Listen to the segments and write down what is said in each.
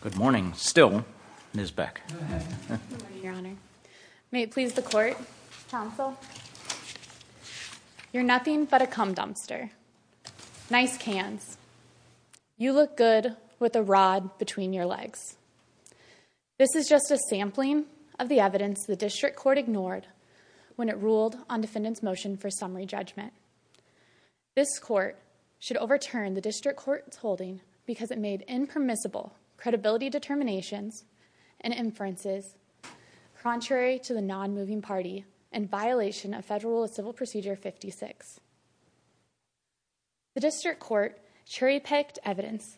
Good morning. Still, Ms. Beck. Good morning, Your Honor. May it please the Court, Counsel, You're nothing but a cum dumpster. Nice cans. You look good with a rod between your legs. This is just a sampling of the evidence the District Court ignored when it ruled on defendant's motion for summary judgment. This Court should overturn the District Court's holding because it made impermissible credibility determinations and inferences contrary to the non-moving party and violation of Federal Rule of Civil Procedure 56. The District Court cherry-picked evidence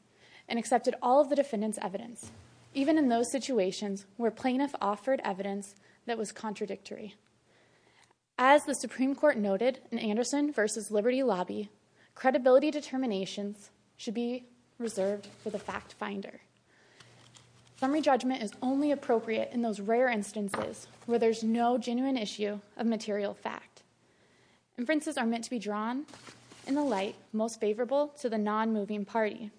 and accepted all of the defendant's evidence, even in those situations where plaintiff offered evidence that was contradictory. As the Supreme Court noted in Anderson v. Liberty Lobby, credibility determinations should be reserved for the fact-finder. Summary judgment is only appropriate in those rare instances where there's no genuine issue of material fact. Inferences are meant to be drawn in the light most favorable to the non-moving party.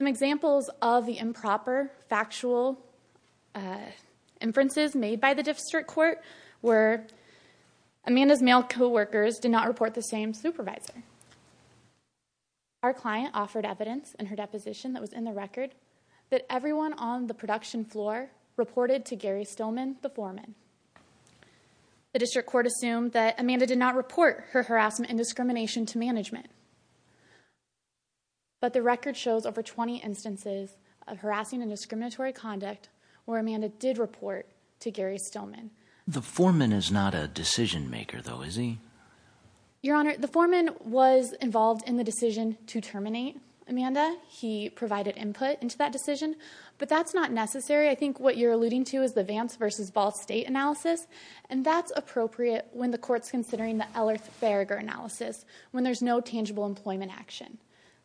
Some examples of the improper factual inferences made by the District Court were Amanda's male co-workers did not report the same supervisor. Our client offered evidence in her deposition that was in the record that everyone on the production floor reported to Gary Stillman, the foreman. The District Court assumed that Amanda did not report her harassment and discrimination to management. But the record shows over 20 instances of harassing and discriminatory conduct where Amanda did report to Gary Stillman. The foreman is not a decision-maker, though, is he? Your Honor, the foreman was involved in the decision to terminate Amanda. He provided input into that decision. But that's not necessary. I think what you're alluding to is the Vance v. Ball State analysis, and that's appropriate when the Court's considering the Ellerth-Berger analysis, when there's no tangible employment action.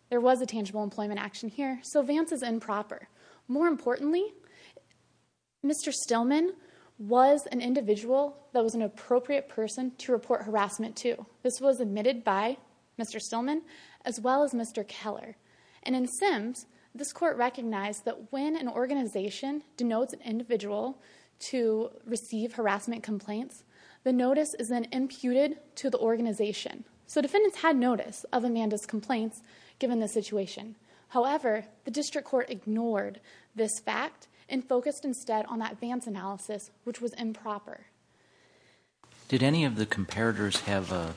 There was a tangible employment action here, so Vance is improper. More importantly, Mr. Stillman was an individual that was an appropriate person to report harassment to. This was admitted by Mr. Stillman as well as Mr. Keller. And in Sims, this Court recognized that when an organization denotes an individual to receive harassment complaints, the notice is then imputed to the organization. So defendants had notice of Amanda's complaints given the situation. However, the District Court ignored this fact and focused instead on that Vance analysis, which was improper. Did any of the comparators have a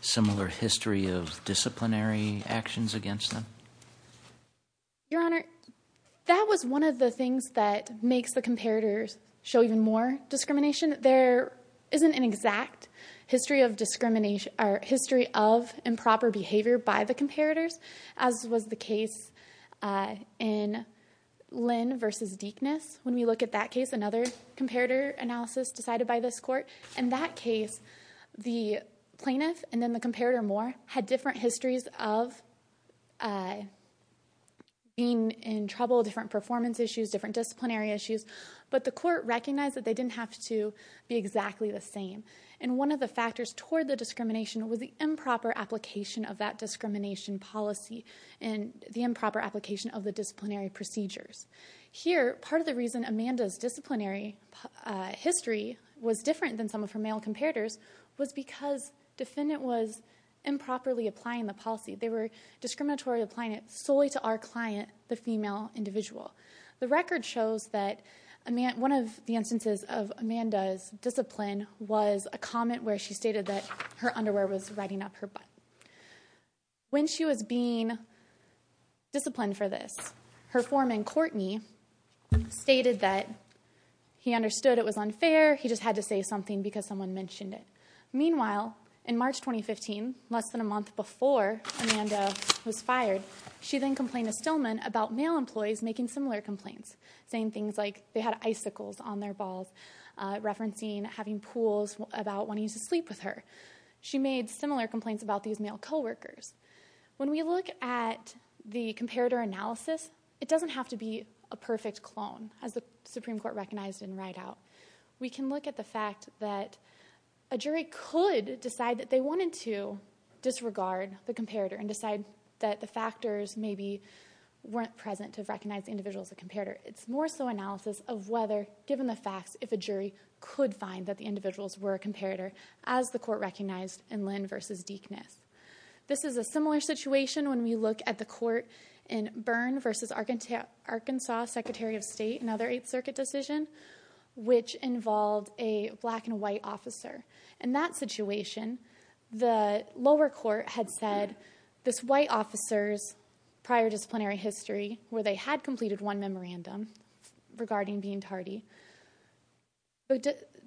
similar history of disciplinary actions against them? Your Honor, that was one of the things that makes the comparators show even more discrimination. There isn't an exact history of improper behavior by the comparators, as was the case in Lynn v. Deekness. When we look at that case, another comparator analysis decided by this Court. In that case, the plaintiff and then the comparator more had different histories of being in trouble, different performance issues, different disciplinary issues. But the Court recognized that they didn't have to be exactly the same. And one of the factors toward the discrimination was the improper application of that discrimination policy and the improper application of the disciplinary procedures. Here, part of the reason Amanda's disciplinary history was different than some of her male comparators was because the defendant was improperly applying the policy. They were discriminatorily applying it solely to our client, the female individual. The record shows that one of the instances of Amanda's discipline was a comment where she stated that her underwear was riding up her butt. When she was being disciplined for this, her foreman, Courtney, stated that he understood it was unfair. He just had to say something because someone mentioned it. Meanwhile, in March 2015, less than a month before Amanda was fired, she then complained to Stillman about male employees making similar complaints, saying things like they had icicles on their balls, or referencing having pools about wanting to sleep with her. She made similar complaints about these male co-workers. When we look at the comparator analysis, it doesn't have to be a perfect clone, as the Supreme Court recognized in Rideout. We can look at the fact that a jury could decide that they wanted to disregard the comparator and decide that the factors maybe weren't present to recognize the individual as a comparator. It's more so analysis of whether, given the facts, if a jury could find that the individuals were a comparator, as the court recognized in Lynn v. Deekness. This is a similar situation when we look at the court in Byrne v. Arkansas, Secretary of State, another Eighth Circuit decision, which involved a black and white officer. In that situation, the lower court had said this white officer's prior disciplinary history, where they had completed one memorandum regarding being tardy.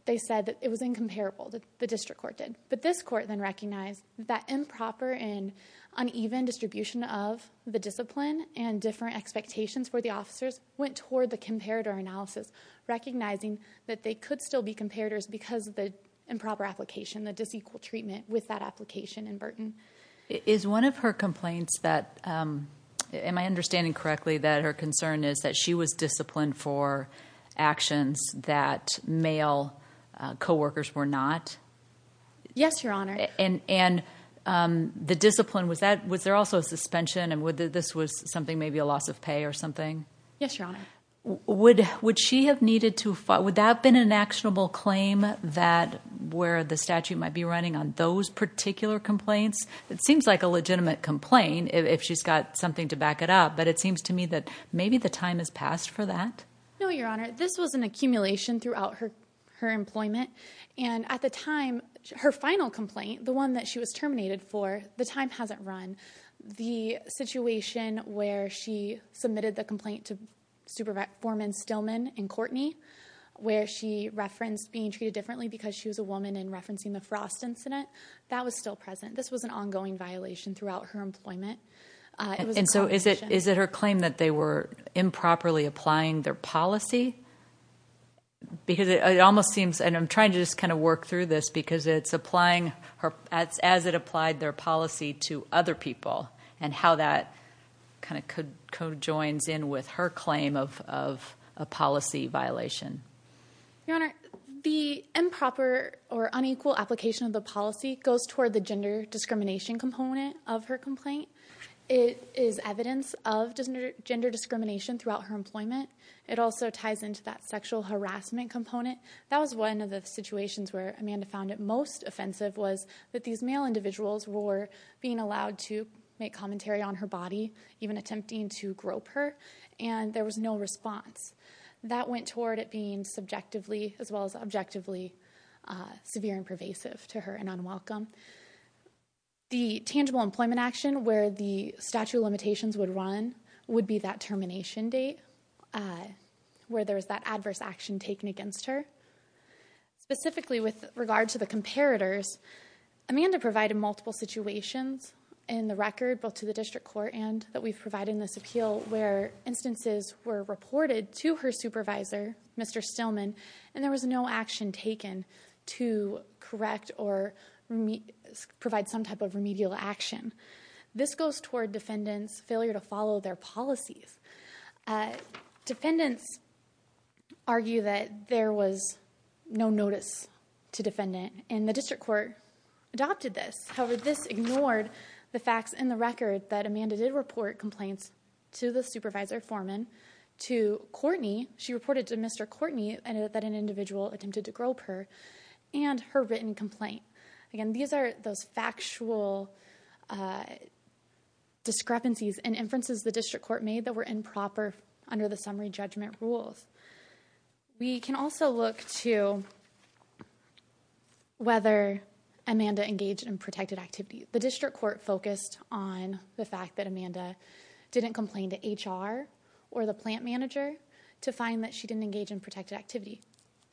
They said that it was incomparable, the district court did. But this court then recognized that improper and uneven distribution of the discipline and different expectations for the officers went toward the comparator analysis, recognizing that they could still be comparators because of the improper application, the disequal treatment with that application and burden. Is one of her complaints that, am I understanding correctly, that her concern is that she was disciplined for actions that male co-workers were not? Yes, Your Honor. And the discipline, was there also a suspension and this was something, maybe a loss of pay or something? Yes, Your Honor. Would that have been an actionable claim that where the statute might be running on those particular complaints? It seems like a legitimate complaint if she's got something to back it up, but it seems to me that maybe the time has passed for that. No, Your Honor. This was an accumulation throughout her employment. And at the time, her final complaint, the one that she was terminated for, the time hasn't run. The situation where she submitted the complaint to Supervisor Foreman Stillman and Courtney, where she referenced being treated differently because she was a woman and referencing the Frost incident, that was still present. This was an ongoing violation throughout her employment. And so is it her claim that they were improperly applying their policy? Because it almost seems, and I'm trying to just kind of work through this, because it's applying as it applied their policy to other people and how that kind of conjoins in with her claim of a policy violation. Your Honor, the improper or unequal application of the policy goes toward the gender discrimination component of her complaint. It is evidence of gender discrimination throughout her employment. It also ties into that sexual harassment component. That was one of the situations where Amanda found it most offensive was that these male individuals were being allowed to make commentary on her body, even attempting to grope her, and there was no response. That went toward it being subjectively as well as objectively severe and pervasive to her and unwelcome. The tangible employment action where the statute of limitations would run would be that termination date, where there was that adverse action taken against her. Specifically with regard to the comparators, Amanda provided multiple situations in the record, both to the district court and that we've provided in this appeal, where instances were reported to her supervisor, Mr. Stillman, and there was no action taken to correct or provide some type of remedial action. This goes toward defendants' failure to follow their policies. Defendants argue that there was no notice to defendant, and the district court adopted this. However, this ignored the facts in the record that Amanda did report complaints to the supervisor, Foreman, to Courtney. She reported to Mr. Courtney that an individual attempted to grope her and her written complaint. Again, these are those factual discrepancies and inferences the district court made that were improper under the summary judgment rules. We can also look to whether Amanda engaged in protected activity. The district court focused on the fact that Amanda didn't complain to HR or the plant manager to find that she didn't engage in protected activity.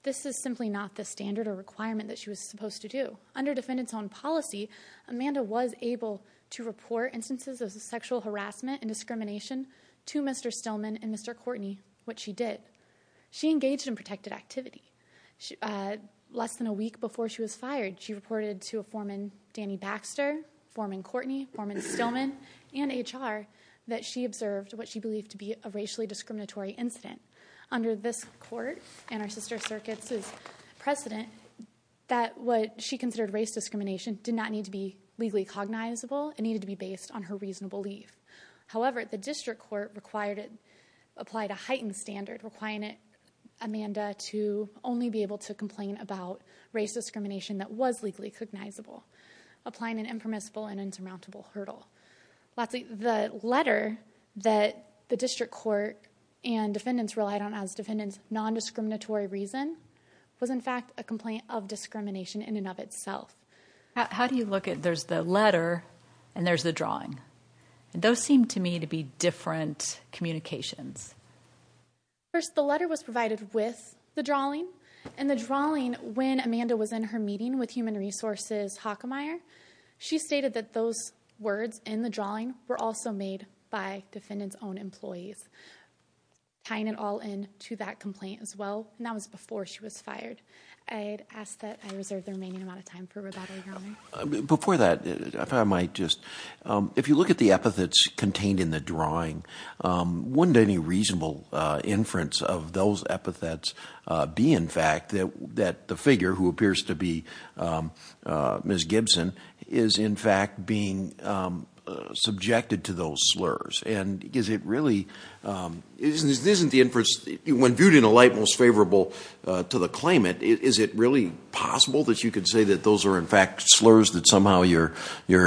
This is simply not the standard or requirement that she was supposed to do. Under defendants' own policy, Amanda was able to report instances of sexual harassment and discrimination to Mr. Stillman and Mr. Courtney, which she did. She engaged in protected activity. Less than a week before she was fired, she reported to a foreman, Danny Baxter, Foreman Courtney, Foreman Stillman, and HR, that she observed what she believed to be a racially discriminatory incident. Under this court and our sister circuit's precedent, that what she considered race discrimination did not need to be legally cognizable. It needed to be based on her reasonable leave. However, the district court applied a heightened standard, requiring Amanda to only be able to complain about race discrimination that was legally cognizable, applying an impermissible and insurmountable hurdle. Lastly, the letter that the district court and defendants relied on as defendants' nondiscriminatory reason was, in fact, a complaint of discrimination in and of itself. How do you look at there's the letter and there's the drawing? Those seem to me to be different communications. First, the letter was provided with the drawing, and the drawing, when Amanda was in her meeting with Human Resources Hockemeyer, she stated that those words in the drawing were also made by defendants' own employees, tying it all in to that complaint as well, and that was before she was fired. I'd ask that I reserve the remaining amount of time for rebuttal, Your Honor. Before that, if I might just, if you look at the epithets contained in the drawing, wouldn't any reasonable inference of those epithets be, in fact, that the figure who appears to be Ms. Gibson is, in fact, being subjected to those slurs? Isn't the inference, when viewed in a light most favorable to the claimant, is it really possible that you could say that those are, in fact, slurs that somehow you're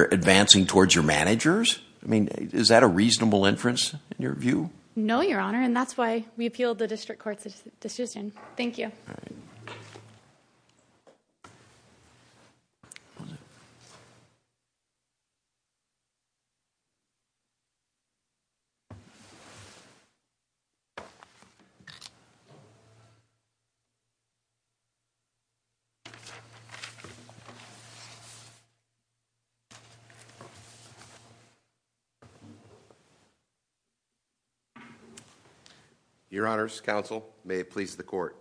advancing towards your managers? I mean, is that a reasonable inference in your view? No, Your Honor, and that's why we appealed the district court's decision. Thank you. Your Honors, Counsel, may it please the court.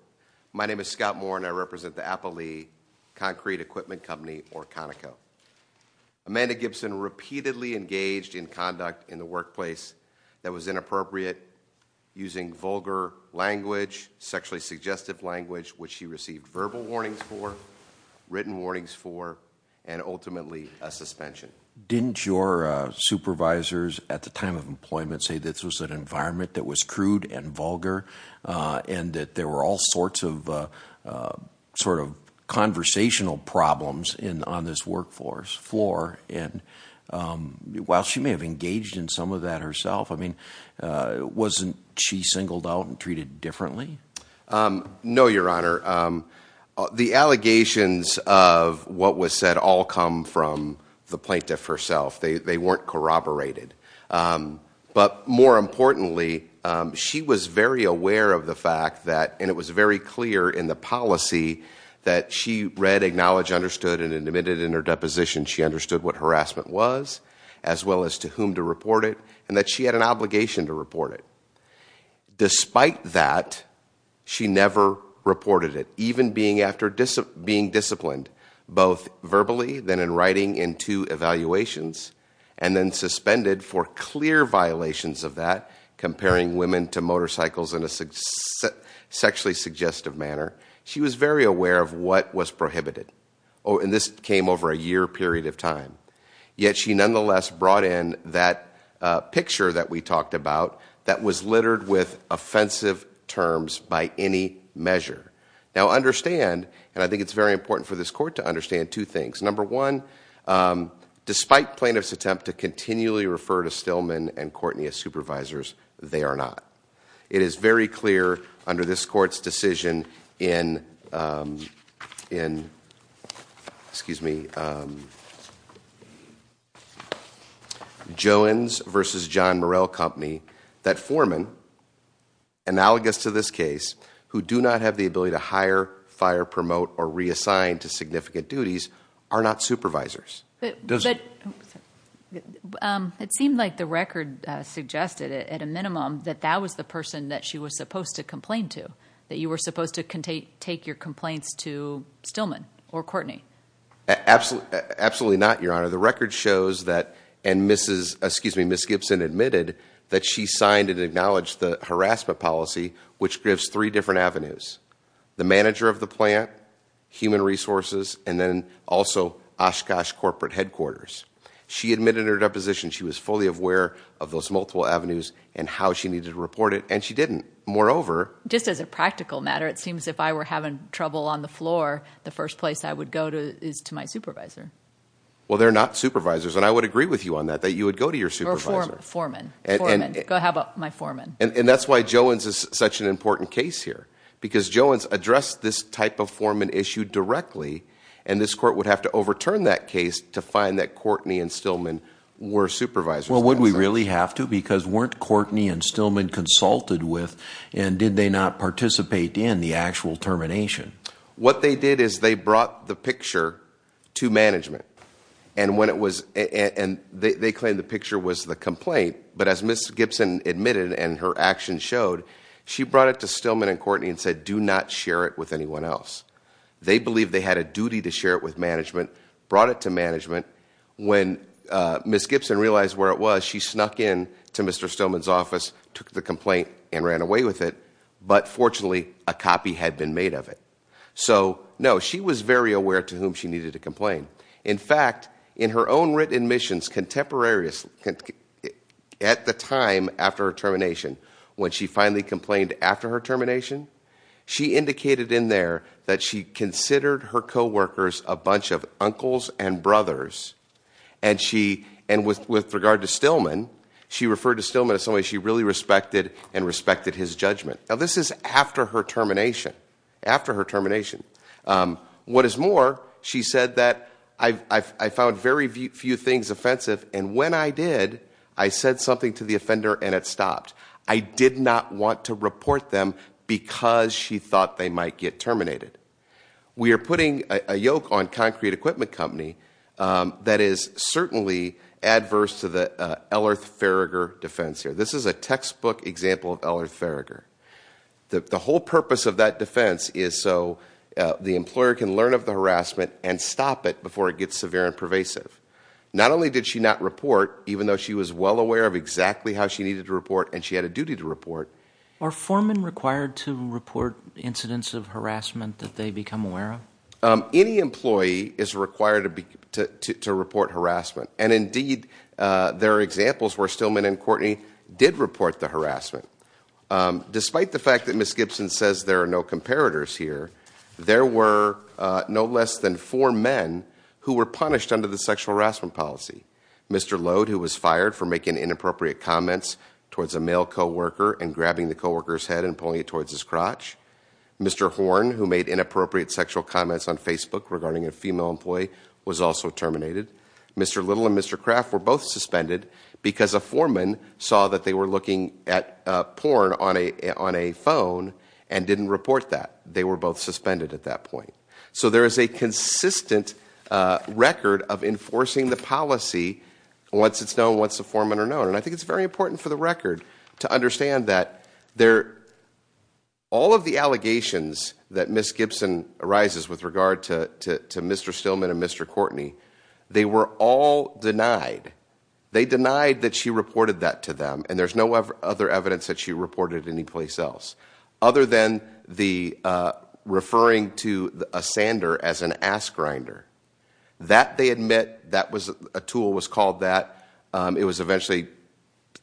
My name is Scott Moore, and I represent the Applee Concrete Equipment Company, or Conoco. Amanda Gibson repeatedly engaged in conduct in the workplace that was inappropriate, using vulgar language, sexually suggestive language, which she received verbal warnings for, written warnings for, and ultimately a suspension. Didn't your supervisors at the time of employment say this was an environment that was crude and vulgar, and that there were all sorts of sort of conversational problems on this workforce floor? And while she may have engaged in some of that herself, I mean, wasn't she singled out and treated differently? No, Your Honor. The allegations of what was said all come from the plaintiff herself. They weren't corroborated. But more importantly, she was very aware of the fact that, and it was very clear in the policy, that she read, acknowledged, understood, and admitted in her deposition she understood what harassment was, as well as to whom to report it, and that she had an obligation to report it. Despite that, she never reported it, even after being disciplined, both verbally, then in writing, in two evaluations, and then suspended for clear violations of that, comparing women to motorcycles in a sexually suggestive manner. She was very aware of what was prohibited. And this came over a year period of time. Yet she nonetheless brought in that picture that we talked about that was littered with offensive terms by any measure. Now understand, and I think it's very important for this court to understand two things. Number one, despite plaintiff's attempt to continually refer to Stillman and Courtney as supervisors, they are not. It is very clear under this court's decision in, excuse me, Jones v. John Morell Company, that foremen, analogous to this case, who do not have the ability to hire, fire, promote, or reassign to significant duties, are not supervisors. It seemed like the record suggested, at a minimum, that that was the person that she was supposed to complain to, that you were supposed to take your complaints to Stillman or Courtney. Absolutely not, Your Honor. The record shows that, and Mrs. Gibson admitted that she signed and acknowledged the harassment policy, which gives three different avenues, the manager of the plant, human resources, and then also Oshkosh corporate headquarters. She admitted in her deposition she was fully aware of those multiple avenues and how she needed to report it, and she didn't. Just as a practical matter, it seems if I were having trouble on the floor, the first place I would go to is to my supervisor. Well, they're not supervisors, and I would agree with you on that, that you would go to your supervisor. Or foreman. How about my foreman? And that's why Jones is such an important case here, because Jones addressed this type of foreman issue directly, and this court would have to overturn that case to find that Courtney and Stillman were supervisors. Well, would we really have to? Because weren't Courtney and Stillman consulted with, and did they not participate in the actual termination? What they did is they brought the picture to management, and they claimed the picture was the complaint, but as Mrs. Gibson admitted and her actions showed, she brought it to Stillman and Courtney and said, do not share it with anyone else. They believed they had a duty to share it with management, brought it to management. When Mrs. Gibson realized where it was, she snuck in to Mr. Stillman's office, took the complaint, and ran away with it. But fortunately, a copy had been made of it. So, no, she was very aware to whom she needed to complain. In fact, in her own written admissions contemporaries, at the time after her termination, when she finally complained after her termination, she indicated in there that she considered her coworkers a bunch of uncles and brothers, and with regard to Stillman, she referred to Stillman as somebody she really respected and respected his judgment. Now, this is after her termination, after her termination. What is more, she said that I found very few things offensive, and when I did, I said something to the offender and it stopped. I did not want to report them because she thought they might get terminated. We are putting a yoke on Concrete Equipment Company that is certainly adverse to the Ellerth-Farragher defense here. This is a textbook example of Ellerth-Farragher. The whole purpose of that defense is so the employer can learn of the harassment and stop it before it gets severe and pervasive. Not only did she not report, even though she was well aware of exactly how she needed to report and she had a duty to report. Are foremen required to report incidents of harassment that they become aware of? Any employee is required to report harassment, and indeed, there are examples where Stillman and Courtney did report the harassment. Despite the fact that Ms. Gibson says there are no comparators here, there were no less than four men who were punished under the sexual harassment policy. Mr. Lode, who was fired for making inappropriate comments towards a male co-worker and grabbing the co-worker's head and pulling it towards his crotch. Mr. Horn, who made inappropriate sexual comments on Facebook regarding a female employee, was also terminated. Mr. Little and Mr. Craft were both suspended because a foreman saw that they were looking at porn on a phone and didn't report that. They were both suspended at that point. So there is a consistent record of enforcing the policy once it's known, once the foremen are known. And I think it's very important for the record to understand that all of the allegations that Ms. Gibson arises with regard to Mr. Stillman and Mr. Courtney, they were all denied. They denied that she reported that to them, and there's no other evidence that she reported anyplace else, other than referring to a sander as an ass grinder. That, they admit, that was a tool, was called that. It was eventually,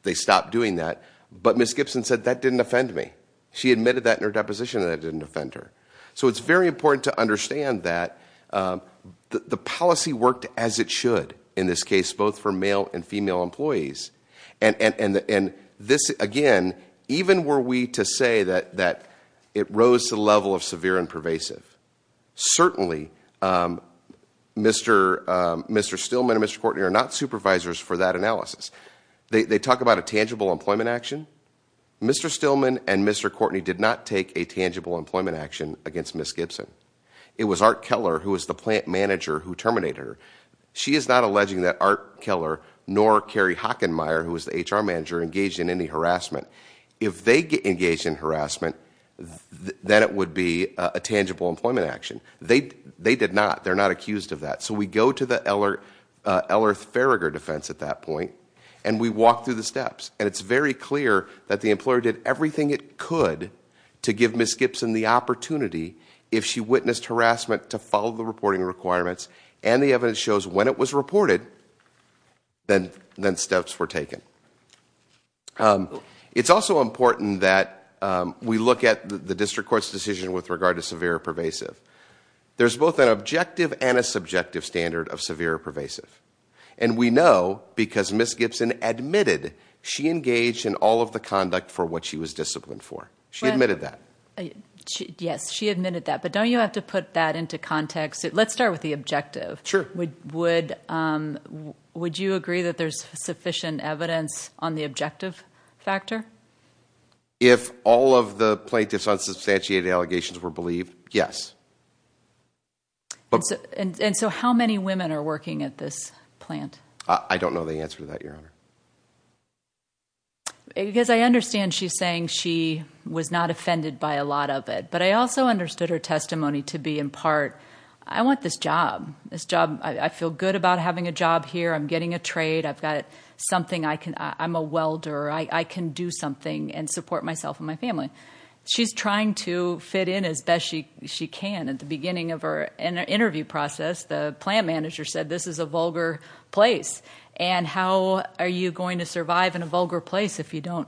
they stopped doing that. But Ms. Gibson said, that didn't offend me. She admitted that in her deposition, and that didn't offend her. So it's very important to understand that the policy worked as it should, in this case, both for male and female employees. And this, again, even were we to say that it rose to the level of severe and pervasive, certainly Mr. Stillman and Mr. Courtney are not supervisors for that analysis. They talk about a tangible employment action. Mr. Stillman and Mr. Courtney did not take a tangible employment action against Ms. Gibson. It was Art Keller, who was the plant manager, who terminated her. She is not alleging that Art Keller, nor Carrie Hockenmayer, who was the HR manager, engaged in any harassment. If they engaged in harassment, then it would be a tangible employment action. They did not. They're not accused of that. So we go to the Ellerth Farragher defense at that point, and we walk through the steps. And it's very clear that the employer did everything it could to give Ms. Gibson the opportunity, if she witnessed harassment, to follow the reporting requirements. And the evidence shows when it was reported, then steps were taken. It's also important that we look at the district court's decision with regard to severe and pervasive. There's both an objective and a subjective standard of severe and pervasive. And we know because Ms. Gibson admitted she engaged in all of the conduct for what she was disciplined for. She admitted that. Yes, she admitted that. But don't you have to put that into context? Let's start with the objective. Sure. Would you agree that there's sufficient evidence on the objective factor? If all of the plaintiff's unsubstantiated allegations were believed, yes. And so how many women are working at this plant? I don't know the answer to that, Your Honor. Because I understand she's saying she was not offended by a lot of it. But I also understood her testimony to be in part, I want this job. I feel good about having a job here. I'm getting a trade. I've got something. I'm a welder. I can do something and support myself and my family. She's trying to fit in as best she can. At the beginning of her interview process, the plant manager said this is a vulgar place. And how are you going to survive in a vulgar place if you don't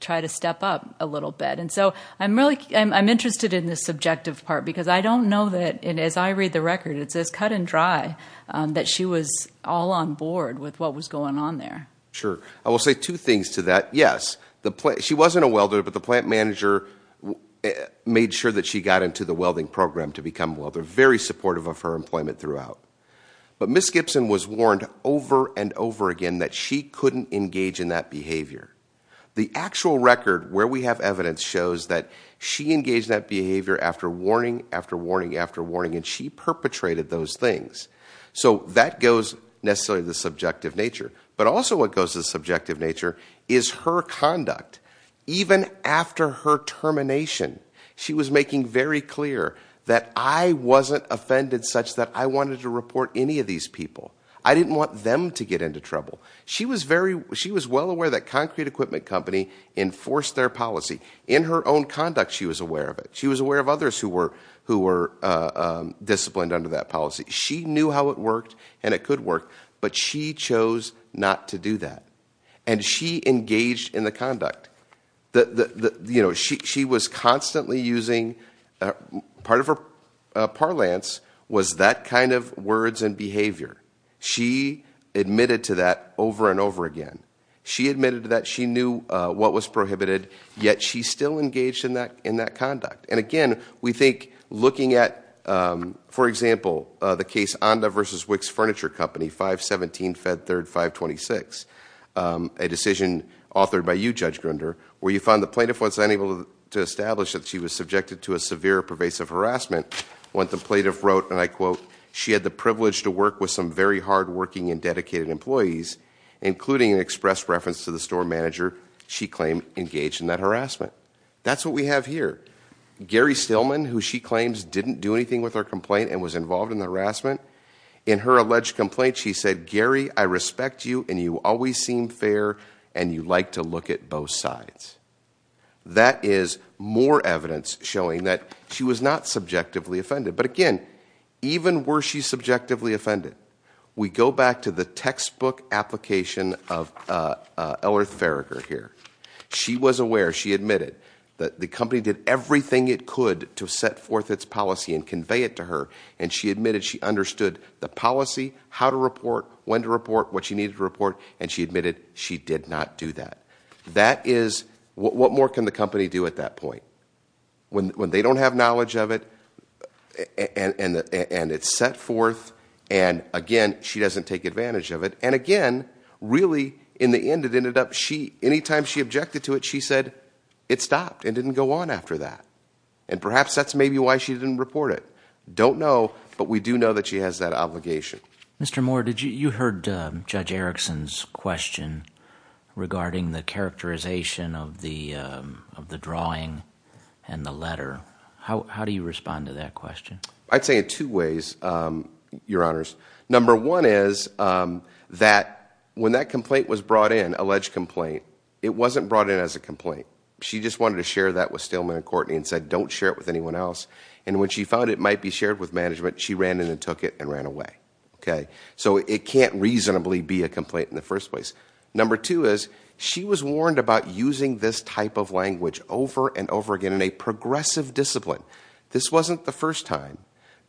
try to step up a little bit? And so I'm interested in the subjective part because I don't know that, and as I read the record, it says cut and dry, that she was all on board with what was going on there. Sure. I will say two things to that. Yes, she wasn't a welder, but the plant manager made sure that she got into the welding program to become a welder, very supportive of her employment throughout. But Ms. Gibson was warned over and over again that she couldn't engage in that behavior. The actual record where we have evidence shows that she engaged that behavior after warning, after warning, after warning, and she perpetrated those things. So that goes necessarily to the subjective nature. But also what goes to the subjective nature is her conduct. Even after her termination, she was making very clear that I wasn't offended such that I wanted to report any of these people. I didn't want them to get into trouble. She was well aware that Concrete Equipment Company enforced their policy. In her own conduct, she was aware of it. She knew how it worked and it could work, but she chose not to do that. And she engaged in the conduct. She was constantly using part of her parlance was that kind of words and behavior. She admitted to that over and over again. She admitted to that. She knew what was prohibited, yet she still engaged in that conduct. And again, we think looking at, for example, the case, Onda versus Wicks Furniture Company, 517, Fed 3rd, 526. A decision authored by you, Judge Grunder, where you found the plaintiff was unable to establish that she was subjected to a severe pervasive harassment. When the plaintiff wrote, and I quote, she had the privilege to work with some very hardworking and dedicated employees, including an express reference to the store manager she claimed engaged in that harassment. That's what we have here. Gary Stillman, who she claims didn't do anything with her complaint and was involved in the harassment. In her alleged complaint, she said, Gary, I respect you and you always seem fair and you like to look at both sides. That is more evidence showing that she was not subjectively offended. But again, even were she subjectively offended? We go back to the textbook application of Ellerith Verager here. She was aware, she admitted, that the company did everything it could to set forth its policy and convey it to her. And she admitted she understood the policy, how to report, when to report, what she needed to report. And she admitted she did not do that. That is, what more can the company do at that point? When they don't have knowledge of it, and it's set forth, and again, she doesn't take advantage of it. And again, really, in the end, it ended up, any time she objected to it, she said, it stopped. It didn't go on after that. And perhaps that's maybe why she didn't report it. Don't know, but we do know that she has that obligation. Mr. Moore, you heard Judge Erickson's question regarding the characterization of the drawing and the letter. How do you respond to that question? I'd say in two ways, Your Honors. Number one is that when that complaint was brought in, alleged complaint, it wasn't brought in as a complaint. She just wanted to share that with Staleman and Courtney and said, don't share it with anyone else. And when she found it might be shared with management, she ran in and took it and ran away. So it can't reasonably be a complaint in the first place. Number two is she was warned about using this type of language over and over again in a progressive discipline. This wasn't the first time.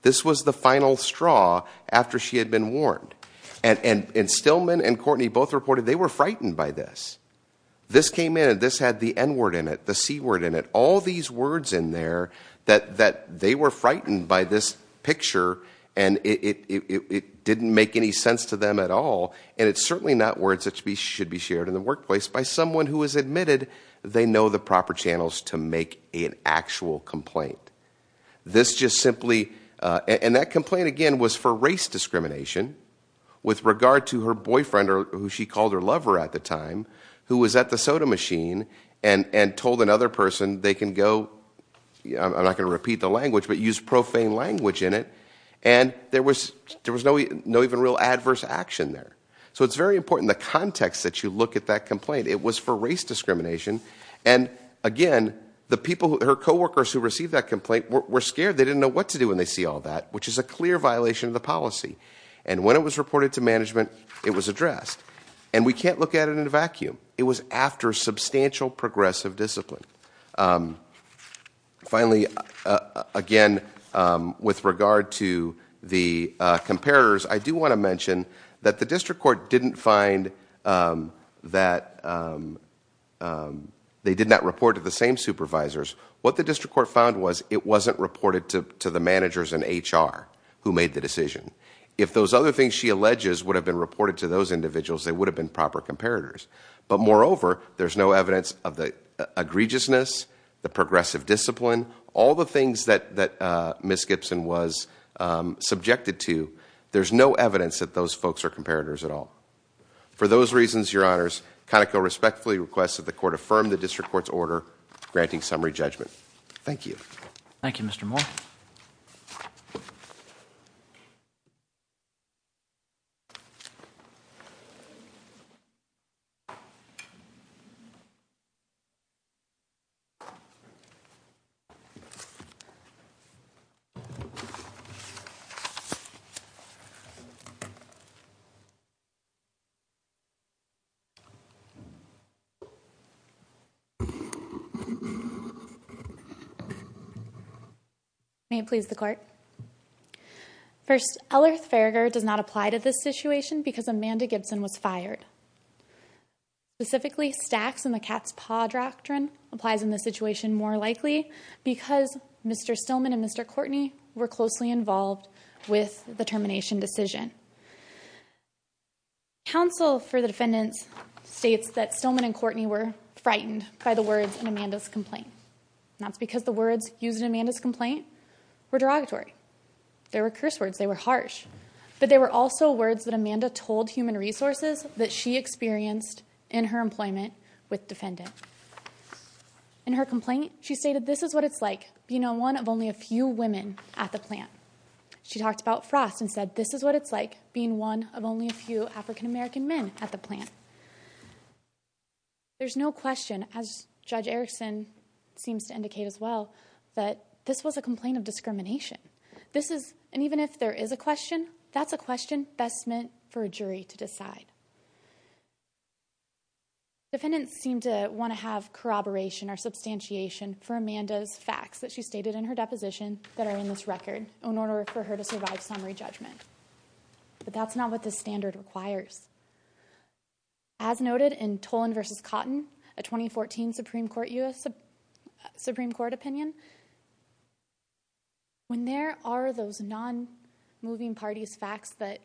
This was the final straw after she had been warned. And Staleman and Courtney both reported they were frightened by this. This came in and this had the N word in it, the C word in it. All these words in there that they were frightened by this picture and it didn't make any sense to them at all. And it's certainly not words that should be shared in the workplace by someone who has admitted they know the proper channels to make an actual complaint. This just simply and that complaint, again, was for race discrimination with regard to her boyfriend or who she called her lover at the time, who was at the soda machine and told another person they can go. I'm not going to repeat the language, but use profane language in it. And there was there was no no even real adverse action there. So it's very important the context that you look at that complaint. It was for race discrimination. And again, the people, her co-workers who received that complaint were scared. They didn't know what to do when they see all that, which is a clear violation of the policy. And when it was reported to management, it was addressed. And we can't look at it in a vacuum. It was after substantial progressive discipline. Finally, again, with regard to the comparators, I do want to mention that the district court didn't find that they did not report to the same supervisors. What the district court found was it wasn't reported to the managers and H.R. who made the decision. If those other things she alleges would have been reported to those individuals, they would have been proper comparators. But moreover, there's no evidence of the egregiousness, the progressive discipline, all the things that Miss Gibson was subjected to. There's no evidence that those folks are comparators at all. For those reasons, Your Honors, Conoco respectfully requests that the court affirm the district court's order granting summary judgment. Thank you. Thank you, Mr. Moore. Thank you, Your Honor. Specifically, stacks in the cat's paw doctrine applies in this situation more likely because Mr. Stillman and Mr. Courtney were closely involved with the termination decision. Counsel for the defendants states that Stillman and Courtney were frightened by the words in Amanda's complaint. And that's because the words used in Amanda's complaint were derogatory. They were curse words. They were harsh. But they were also words that Amanda told Human Resources that she experienced in her employment with defendant. In her complaint, she stated, this is what it's like being one of only a few women at the plant. She talked about Frost and said, this is what it's like being one of only a few African-American men at the plant. There's no question, as Judge Erickson seems to indicate as well, that this was a complaint of discrimination. And even if there is a question, that's a question best meant for a jury to decide. Defendants seem to want to have corroboration or substantiation for Amanda's facts that she stated in her deposition that are in this record in order for her to survive summary judgment. But that's not what the standard requires. As noted in Tolan versus Cotton, a 2014 Supreme Court opinion, when there are those non-moving parties facts that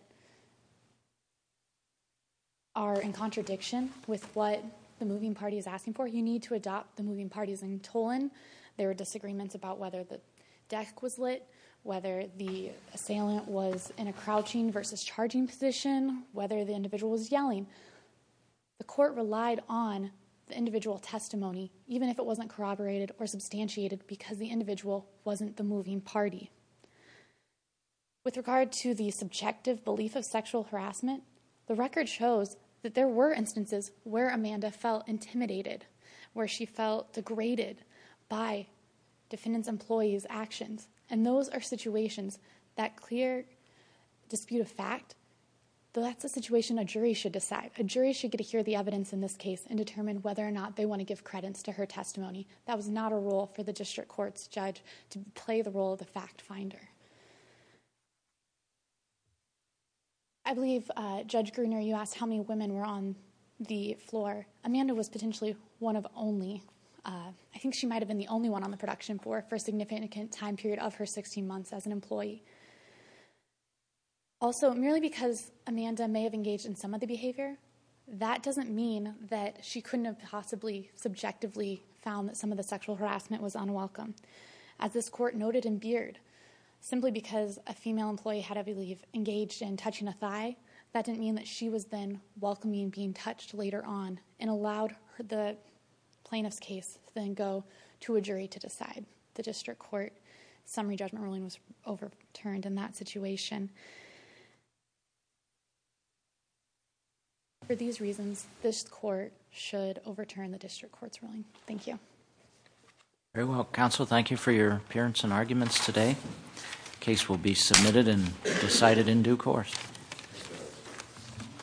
are in contradiction with what the moving party is asking for, you need to adopt the moving parties in Tolan. There were disagreements about whether the deck was lit, whether the assailant was in a crouching versus charging position, whether the individual was yelling. The court relied on the individual testimony, even if it wasn't corroborated or substantiated because the individual wasn't the moving party. With regard to the subjective belief of sexual harassment, the record shows that there were instances where Amanda felt intimidated, where she felt degraded by defendants' employees' actions. And those are situations that clear dispute of fact, but that's a situation a jury should decide. A jury should get to hear the evidence in this case and determine whether or not they want to give credits to her testimony. That was not a role for the district court's judge to play the role of the fact finder. I believe, Judge Gruner, you asked how many women were on the floor. Amanda was potentially one of only, I think she might have been the only one on the production floor for a significant time period of her 16 months as an employee. Also, merely because Amanda may have engaged in some of the behavior, that doesn't mean that she couldn't have possibly subjectively found that some of the sexual harassment was unwelcome. As this court noted in Beard, simply because a female employee had, I believe, engaged in touching a thigh, that didn't mean that she was then welcoming being touched later on, and allowed the plaintiff's case to then go to a jury to decide. The district court summary judgment ruling was overturned in that situation. For these reasons, this court should overturn the district court's ruling. Thank you. Very well. Counsel, thank you for your appearance and arguments today. Case will be submitted and decided in due course. Thank you.